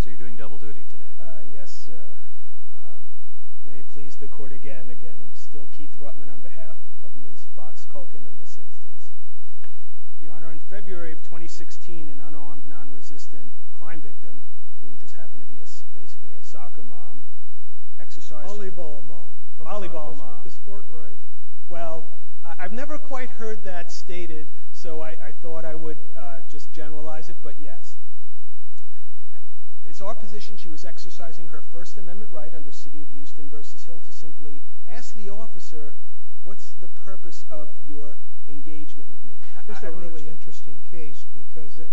So you're doing double duty today? Yes, sir. May it please the court again, again, I'm still Keith Ruttman on behalf of Ms. Box Kuhlken in this instance. Your Honor, in February of 2016, an unarmed, non-resistant crime victim, who just happened to be basically a soccer mom, exercised her- Volleyball mom. Volleyball mom. Come on, let's get the sport right. Well, I've never quite heard that stated, so I thought I would just generalize it, but yes. It's our position she was exercising her First Amendment right under City of Houston v. Hill to simply ask the officer, what's the purpose of your engagement with me? This is a really interesting case because it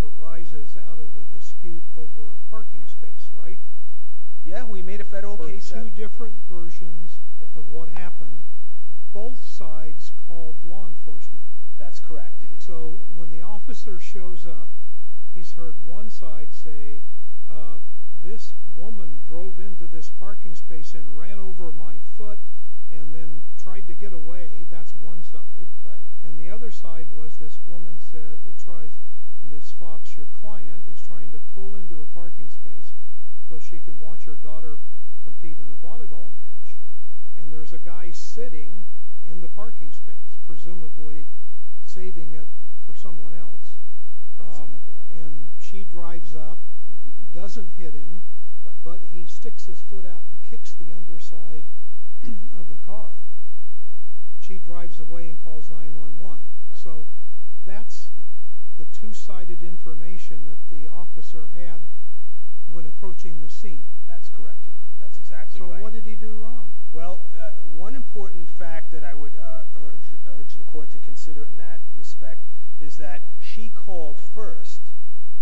arises out of a dispute over a parking space, right? Yeah, we made a federal case- For two different versions of what happened, both sides called law enforcement. That's correct. So when the officer shows up, he's heard one side say, this woman drove into this parking space and ran over my foot and then tried to get away. That's one side. Right. And the other side was this woman said, who tries, Ms. Fox, your client, is trying to pull into a parking space so she can watch her daughter compete in a volleyball match. And there's a guy sitting in the parking space, presumably saving it for someone else. That's exactly right. And she drives up, doesn't hit him, but he sticks his foot out and kicks the underside of the car. She drives away and calls 911. Right. So that's the two-sided information that the officer had when approaching the scene. That's correct, Your Honor. That's exactly right. And what did he do wrong? Well, one important fact that I would urge the court to consider in that respect is that she called first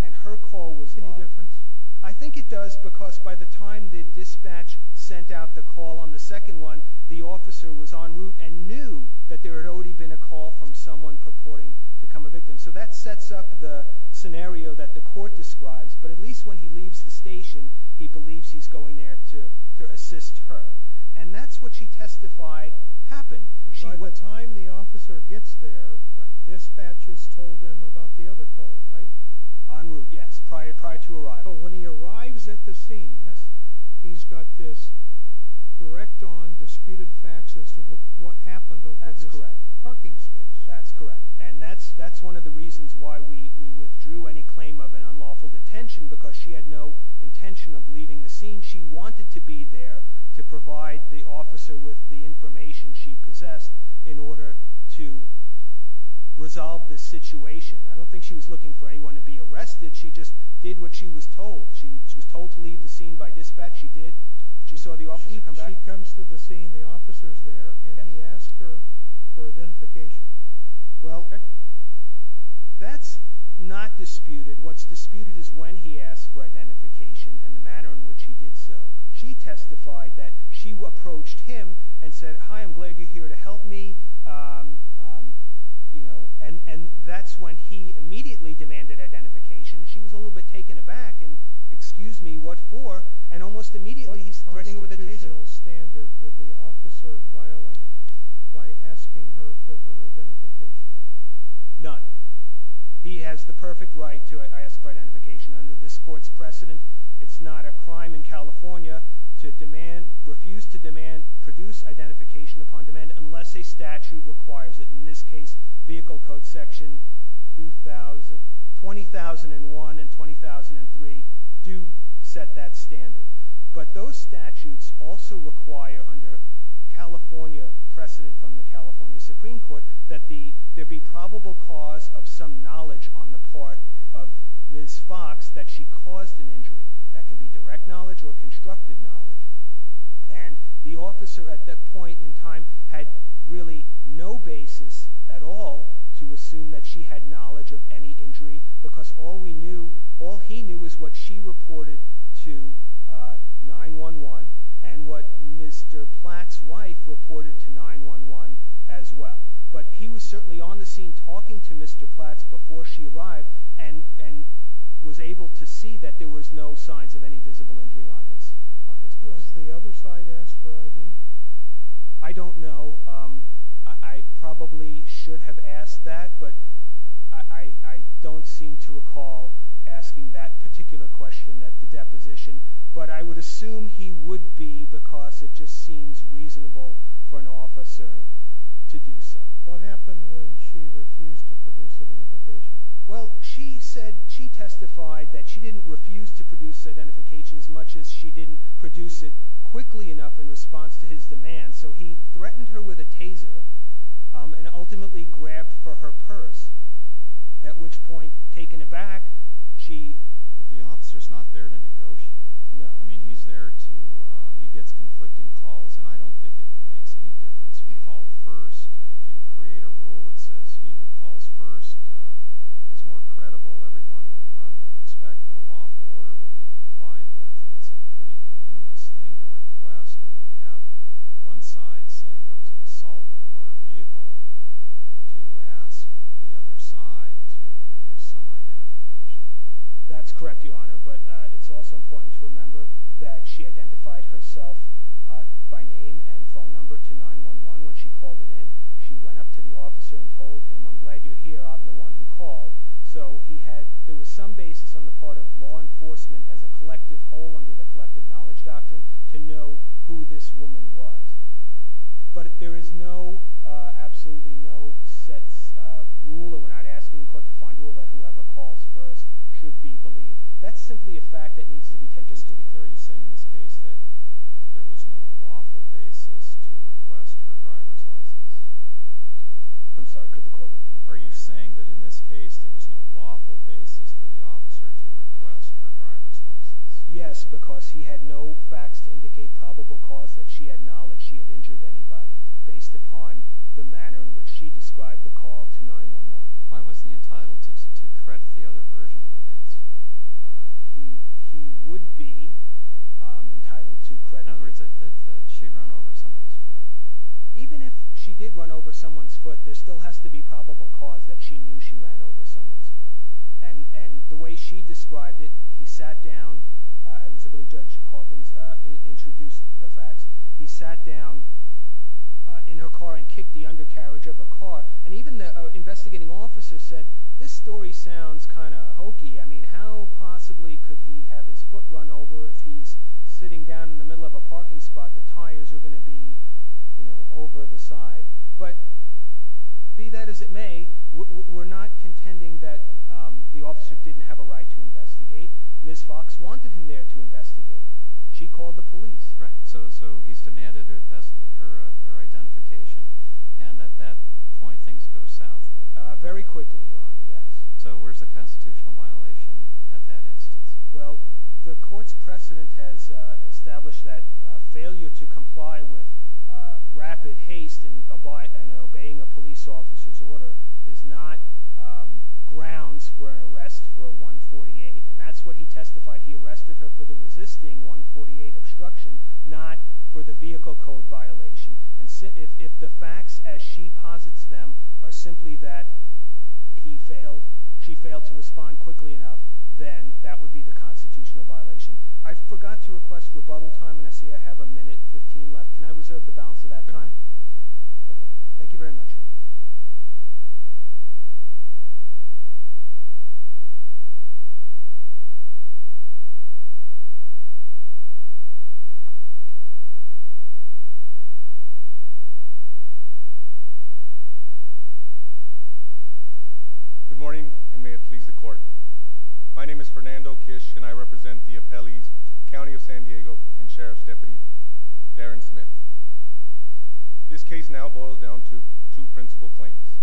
and her call was live. Any difference? I think it does because by the time the dispatch sent out the call on the second one, the officer was en route and knew that there had already been a call from someone purporting to become a victim. So that sets up the scenario that the court describes. But at least when he leaves the station, he believes he's going there to assist her. And that's what she testified happened. By the time the officer gets there, dispatch has told him about the other call, right? En route, yes, prior to arrival. So when he arrives at the scene, he's got this direct-on disputed facts as to what happened over this parking space. That's correct. And that's one of the reasons why we withdrew any claim of an unlawful detention because she had no intention of leaving the scene. She wanted to be there to provide the officer with the information she possessed in order to resolve this situation. I don't think she was looking for anyone to be arrested. She just did what she was told. She was told to leave the scene by dispatch. She did. She saw the officer come back. She comes to the scene, the officer's there, and he asks her for identification. Well, that's not disputed. What's disputed is when he asked for identification and the manner in which he did so. She testified that she approached him and said, hi, I'm glad you're here to help me. You know, and that's when he immediately demanded identification. She was a little bit taken aback and, excuse me, what for? And almost immediately he's threatening her with detention. What additional standard did the officer violate by asking her for her identification? None. He has the perfect right to ask for identification under this court's precedent. It's not a crime in California to demand, refuse to demand, produce identification upon demand unless a statute requires it. In this case, Vehicle Code Section 2000, 2001 and 2003 do set that standard. But those statutes also require under California precedent from the California Supreme Court that there be probable cause of some knowledge on the part of Ms. Fox that she caused an injury. That can be direct knowledge or constructive knowledge. And the officer at that point in time had really no basis at all to assume that she had knowledge of any injury because all he knew is what she reported to 911 and what Mr. Platt's wife reported to 911 as well. But he was certainly on the scene talking to Mr. Platt before she arrived and was able to see that there was no signs of any visible injury on his breast. Has the other side asked for ID? I don't know. I probably should have asked that, but I don't seem to recall asking that particular question at the deposition. But I would assume he would be because it just seems reasonable for an officer to do so. What happened when she refused to produce identification? Well, she said she testified that she didn't refuse to produce identification as much as she didn't produce it quickly enough in response to his demand. So he threatened her with a taser and ultimately grabbed for her purse, at which point, taking it back, she— But the officer's not there to negotiate. No. I mean, he's there to—he gets conflicting calls, and I don't think it makes any difference who called first. If you create a rule that says he who calls first is more credible, everyone will run to expect that a lawful order will be complied with, and it's a pretty de minimis thing to request when you have one side saying there was an assault with a motor vehicle to ask the other side to produce some identification. That's correct, Your Honor. But it's also important to remember that she identified herself by name and phone number to 911 when she called it in. She went up to the officer and told him, I'm glad you're here. I'm the one who called. So he had—there was some basis on the part of law enforcement as a collective whole under the collective knowledge doctrine to know who this woman was. But there is no—absolutely no set rule, or we're not asking the court to find a rule that whoever calls first should be believed. That's simply a fact that needs to be taken to account. Just to be clear, are you saying in this case that there was no lawful basis to request her driver's license? I'm sorry. Could the court repeat the question? Are you saying that in this case there was no lawful basis for the officer to request her driver's license? Yes, because he had no facts to indicate probable cause that she had knowledge she had injured anybody based upon the manner in which she described the call to 911. Why wasn't he entitled to credit the other version of events? He would be entitled to credit— Even if she did run over someone's foot, there still has to be probable cause that she knew she ran over someone's foot. And the way she described it, he sat down—I believe Judge Hawkins introduced the facts— he sat down in her car and kicked the undercarriage of her car. And even the investigating officer said, this story sounds kind of hokey. I mean, how possibly could he have his foot run over if he's sitting down in the middle of a parking spot? The tires are going to be over the side. But be that as it may, we're not contending that the officer didn't have a right to investigate. Ms. Fox wanted him there to investigate. She called the police. Right, so he's demanded her identification. And at that point, things go south a bit. Very quickly, Your Honor, yes. So where's the constitutional violation at that instance? Well, the court's precedent has established that failure to comply with rapid haste in obeying a police officer's order is not grounds for an arrest for a 148. And that's what he testified. He arrested her for the resisting 148 obstruction, not for the vehicle code violation. And if the facts as she posits them are simply that he failed, she failed to respond quickly enough, then that would be the constitutional violation. I forgot to request rebuttal time, and I see I have a minute 15 left. Can I reserve the balance of that time? Okay, thank you very much, Your Honor. Good morning, and may it please the court. My name is Fernando Kish, and I represent the appellees, County of San Diego, and Sheriff's Deputy, Darren Smith. This case now boils down to two principal claims.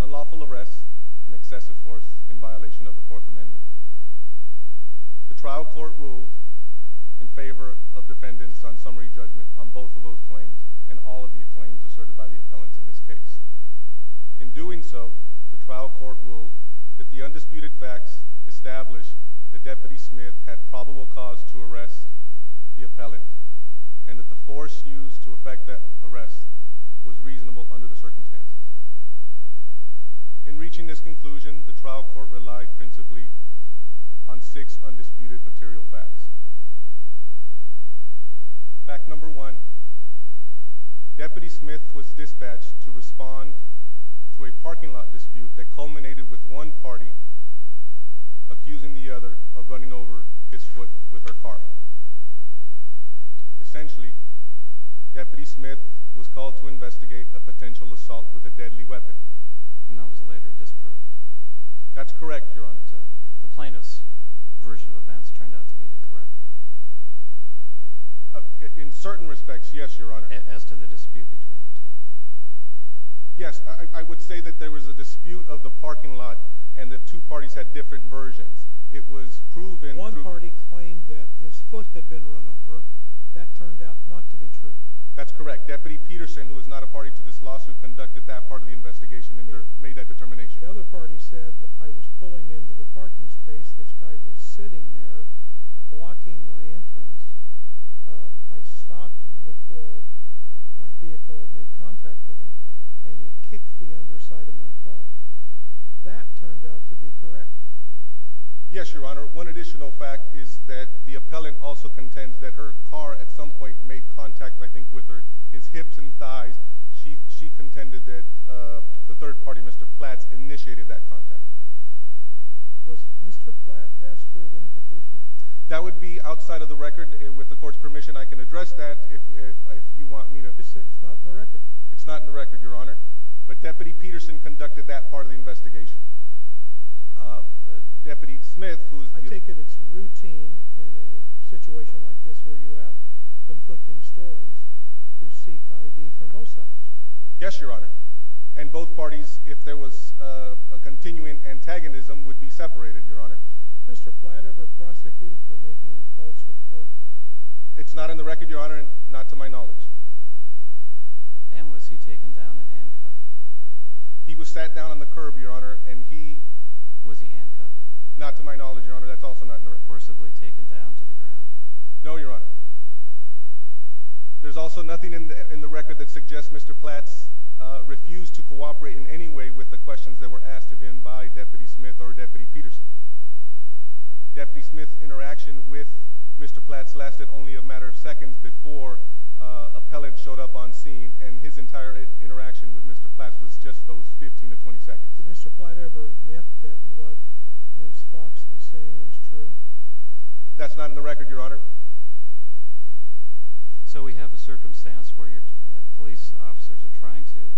Unlawful arrest and excessive force in violation of the Fourth Amendment. The trial court ruled in favor of defendants on summary judgment on both of those claims and all of the claims asserted by the appellants in this case. In doing so, the trial court ruled that the undisputed facts established that Deputy Smith had probable cause to arrest the appellant and that the force used to effect that arrest was reasonable under the circumstances. In reaching this conclusion, the trial court relied principally on six undisputed material facts. Fact number one, Deputy Smith was dispatched to respond to a parking lot dispute that culminated with one party accusing the other of running over his foot with her car. Essentially, Deputy Smith was called to investigate a potential assault with a deadly weapon. And that was later disproved. That's correct, Your Honor. The plaintiff's version of events turned out to be the correct one. In certain respects, yes, Your Honor. As to the dispute between the two. Yes, I would say that there was a dispute of the parking lot and that two parties had different versions. One party claimed that his foot had been run over. That turned out not to be true. That's correct. Deputy Peterson, who is not a party to this lawsuit, conducted that part of the investigation and made that determination. The other party said I was pulling into the parking space. This guy was sitting there blocking my entrance. I stopped before my vehicle made contact with him and he kicked the underside of my car. That turned out to be correct. Yes, Your Honor. One additional fact is that the appellant also contends that her car at some point made contact, I think, with his hips and thighs. She contended that the third party, Mr. Platt, initiated that contact. Was Mr. Platt asked for identification? That would be outside of the record. With the court's permission, I can address that if you want me to. It's not in the record. It's not in the record, Your Honor. But Deputy Peterson conducted that part of the investigation. Deputy Smith, who is the— I take it it's routine in a situation like this where you have conflicting stories to seek ID from both sides. Yes, Your Honor. And both parties, if there was a continuing antagonism, would be separated, Your Honor. Was Mr. Platt ever prosecuted for making a false report? It's not in the record, Your Honor, and not to my knowledge. And was he taken down and handcuffed? He was sat down on the curb, Your Honor, and he— Was he handcuffed? Not to my knowledge, Your Honor. That's also not in the record. Forcibly taken down to the ground? No, Your Honor. There's also nothing in the record that suggests Mr. Platt refused to cooperate in any way with the questions that were asked of him by Deputy Smith or Deputy Peterson. Deputy Smith's interaction with Mr. Platt lasted only a matter of seconds before an appellant showed up on scene, and his entire interaction with Mr. Platt was just those 15 to 20 seconds. Did Mr. Platt ever admit that what Ms. Fox was saying was true? That's not in the record, Your Honor. So we have a circumstance where police officers are trying to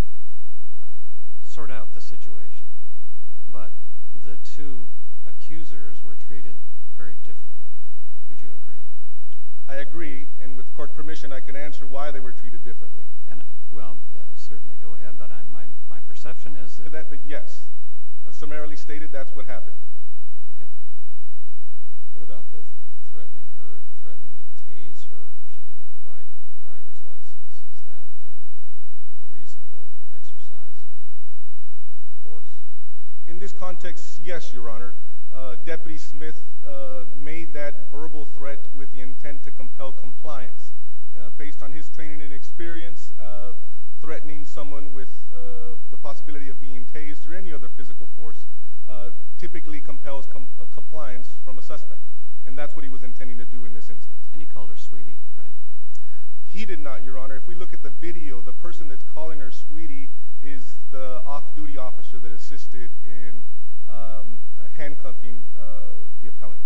sort out the situation, but the two accusers were treated very differently. Would you agree? I agree, and with court permission, I can answer why they were treated differently. Well, certainly go ahead, but my perception is— But yes, summarily stated, that's what happened. Okay. What about the threatening her, threatening to tase her if she didn't provide her driver's license? Is that a reasonable exercise of force? In this context, yes, Your Honor. Deputy Smith made that verbal threat with the intent to compel compliance. Based on his training and experience, threatening someone with the possibility of being tased or any other physical force typically compels compliance from a suspect, and that's what he was intending to do in this instance. And he called her sweetie, right? He did not, Your Honor. If we look at the video, the person that's calling her sweetie is the off-duty officer that assisted in handcuffing the appellant.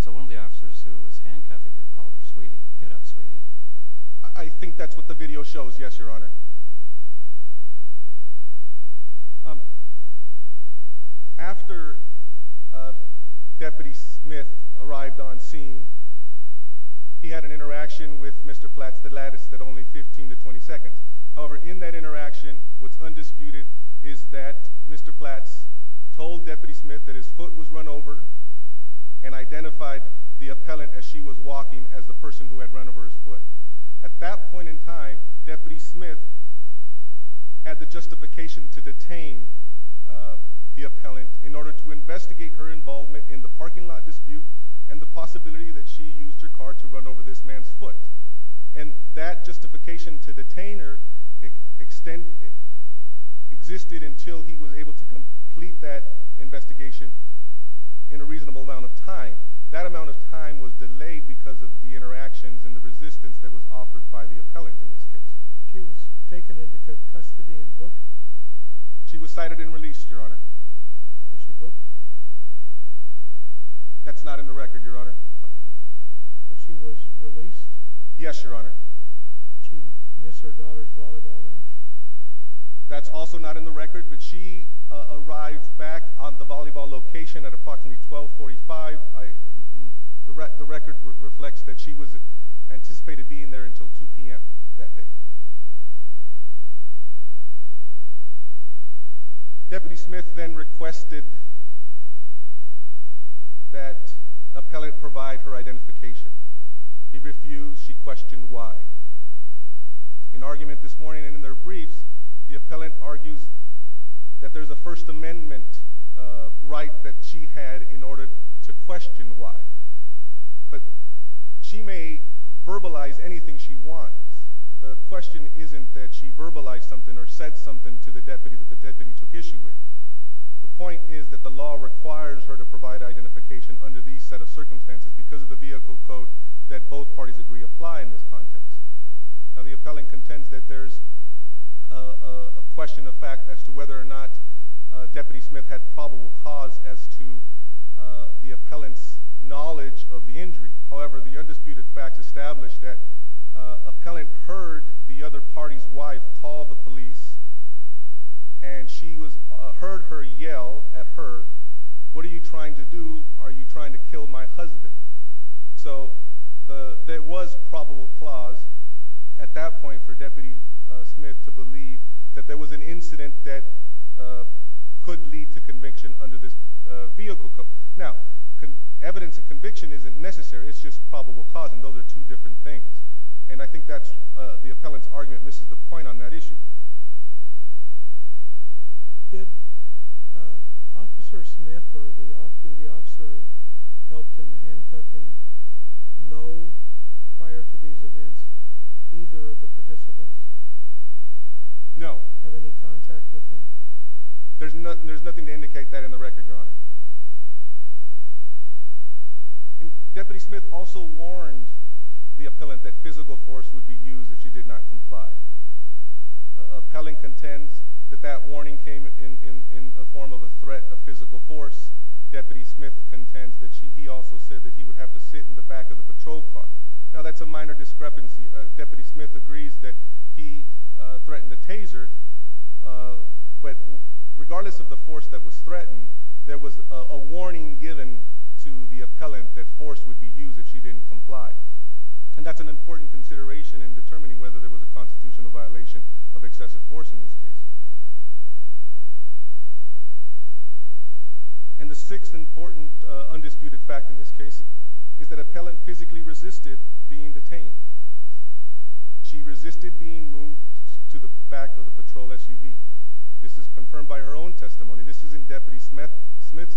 So one of the officers who was handcuffing her called her sweetie. Get up, sweetie. I think that's what the video shows, yes, Your Honor. After Deputy Smith arrived on scene, he had an interaction with Mr. Platts that lasted only 15 to 20 seconds. However, in that interaction, what's undisputed is that Mr. Platts told Deputy Smith that his foot was run over and identified the appellant as she was walking as the person who had run over his foot. At that point in time, Deputy Smith had the justification to detain the appellant in order to investigate her involvement in the parking lot dispute and the possibility that she used her car to run over this man's foot. And that justification to detain her existed until he was able to complete that investigation in a reasonable amount of time. That amount of time was delayed because of the interactions and the resistance that was offered by the appellant in this case. She was taken into custody and booked? She was cited and released, Your Honor. Was she booked? That's not in the record, Your Honor. Okay. But she was released? Yes, Your Honor. Did she miss her daughter's volleyball match? That's also not in the record, but she arrived back on the volleyball location at approximately 1245. The record reflects that she was anticipated being there until 2 p.m. that day. Deputy Smith then requested that appellant provide her identification. He refused. She questioned why. In argument this morning and in their briefs, the appellant argues that there's a First Amendment right that she had in order to question why. But she may verbalize anything she wants. The question isn't that she verbalized something or said something to the deputy that the deputy took issue with. The point is that the law requires her to provide identification under these set of circumstances because of the vehicle code that both parties agree apply in this context. Now, the appellant contends that there's a question of fact as to whether or not Deputy Smith had probable cause as to the appellant's knowledge of the injury. However, the undisputed facts establish that appellant heard the other party's wife call the police, and she heard her yell at her, What are you trying to do? Are you trying to kill my husband? So there was probable cause at that point for Deputy Smith to believe that there was an incident that could lead to conviction under this vehicle code. Now, evidence of conviction isn't necessary. It's just probable cause, and those are two different things. And I think that the appellant's argument misses the point on that issue. Did Officer Smith or the off-duty officer who helped in the handcuffing know prior to these events either of the participants? No. Have any contact with them? There's nothing to indicate that in the record, Your Honor. Deputy Smith also warned the appellant that physical force would be used if she did not comply. Appellant contends that that warning came in the form of a threat of physical force. Deputy Smith contends that he also said that he would have to sit in the back of the patrol car. Now, that's a minor discrepancy. Deputy Smith agrees that he threatened a taser, but regardless of the force that was threatened, there was a warning given to the appellant that force would be used if she didn't comply. And that's an important consideration in determining whether there was a constitutional violation of excessive force in this case. And the sixth important undisputed fact in this case is that appellant physically resisted being detained. She resisted being moved to the back of the patrol SUV. This is confirmed by her own testimony. This isn't Deputy Smith's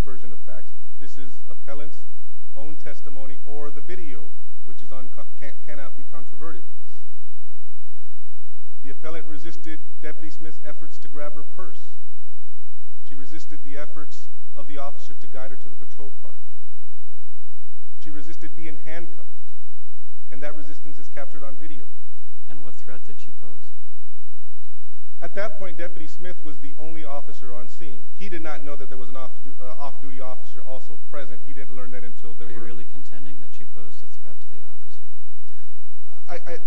version of facts. This is appellant's own testimony or the video, which cannot be controverted. The appellant resisted Deputy Smith's efforts to grab her purse. She resisted the efforts of the officer to guide her to the patrol car. She resisted being handcuffed, and that resistance is captured on video. And what threat did she pose? At that point, Deputy Smith was the only officer on scene. He did not know that there was an off-duty officer also present. He didn't learn that until there were. Are you really contending that she posed a threat to the officer?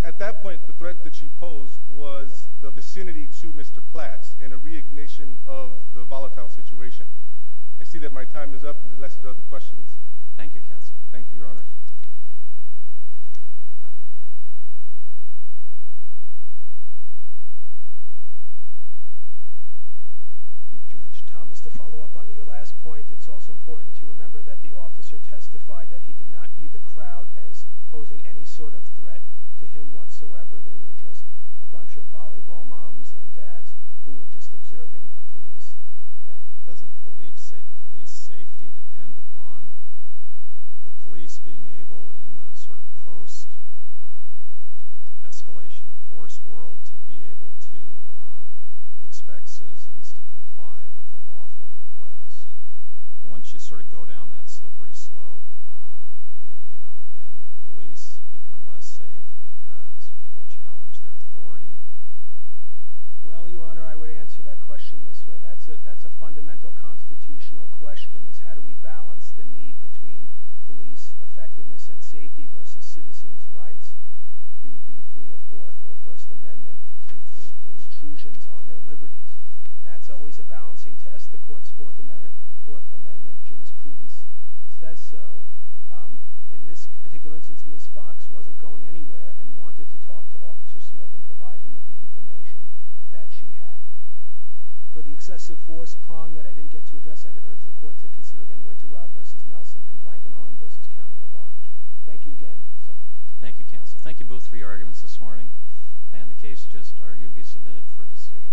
At that point, the threat that she posed was the vicinity to Mr. Platts and a re-ignition of the volatile situation. I see that my time is up. Unless there are other questions? Thank you, Counsel. Thank you, Your Honors. Chief Judge Thomas, to follow up on your last point, it's also important to remember that the officer testified that he did not view the crowd as posing any sort of threat to him whatsoever. They were just a bunch of volleyball moms and dads who were just observing a police event. Doesn't police safety depend upon the police being able, in the sort of post-escalation-of-force world, to be able to expect citizens to comply with a lawful request? Once you sort of go down that slippery slope, then the police become less safe because people challenge their authority. Well, Your Honor, I would answer that question this way. That's a fundamental constitutional question, is how do we balance the need between police effectiveness and safety versus citizens' rights to be free of Fourth or First Amendment intrusions on their liberties? That's always a balancing test. The Court's Fourth Amendment jurisprudence says so. In this particular instance, Ms. Fox wasn't going anywhere and wanted to talk to Officer Smith and provide him with the information that she had. For the excessive force prong that I didn't get to address, I'd urge the Court to consider again Winterrod v. Nelson and Blankenhorn v. County of Orange. Thank you again so much. Thank you, Counsel. Thank you both for your arguments this morning. And the case is just argued to be submitted for decision.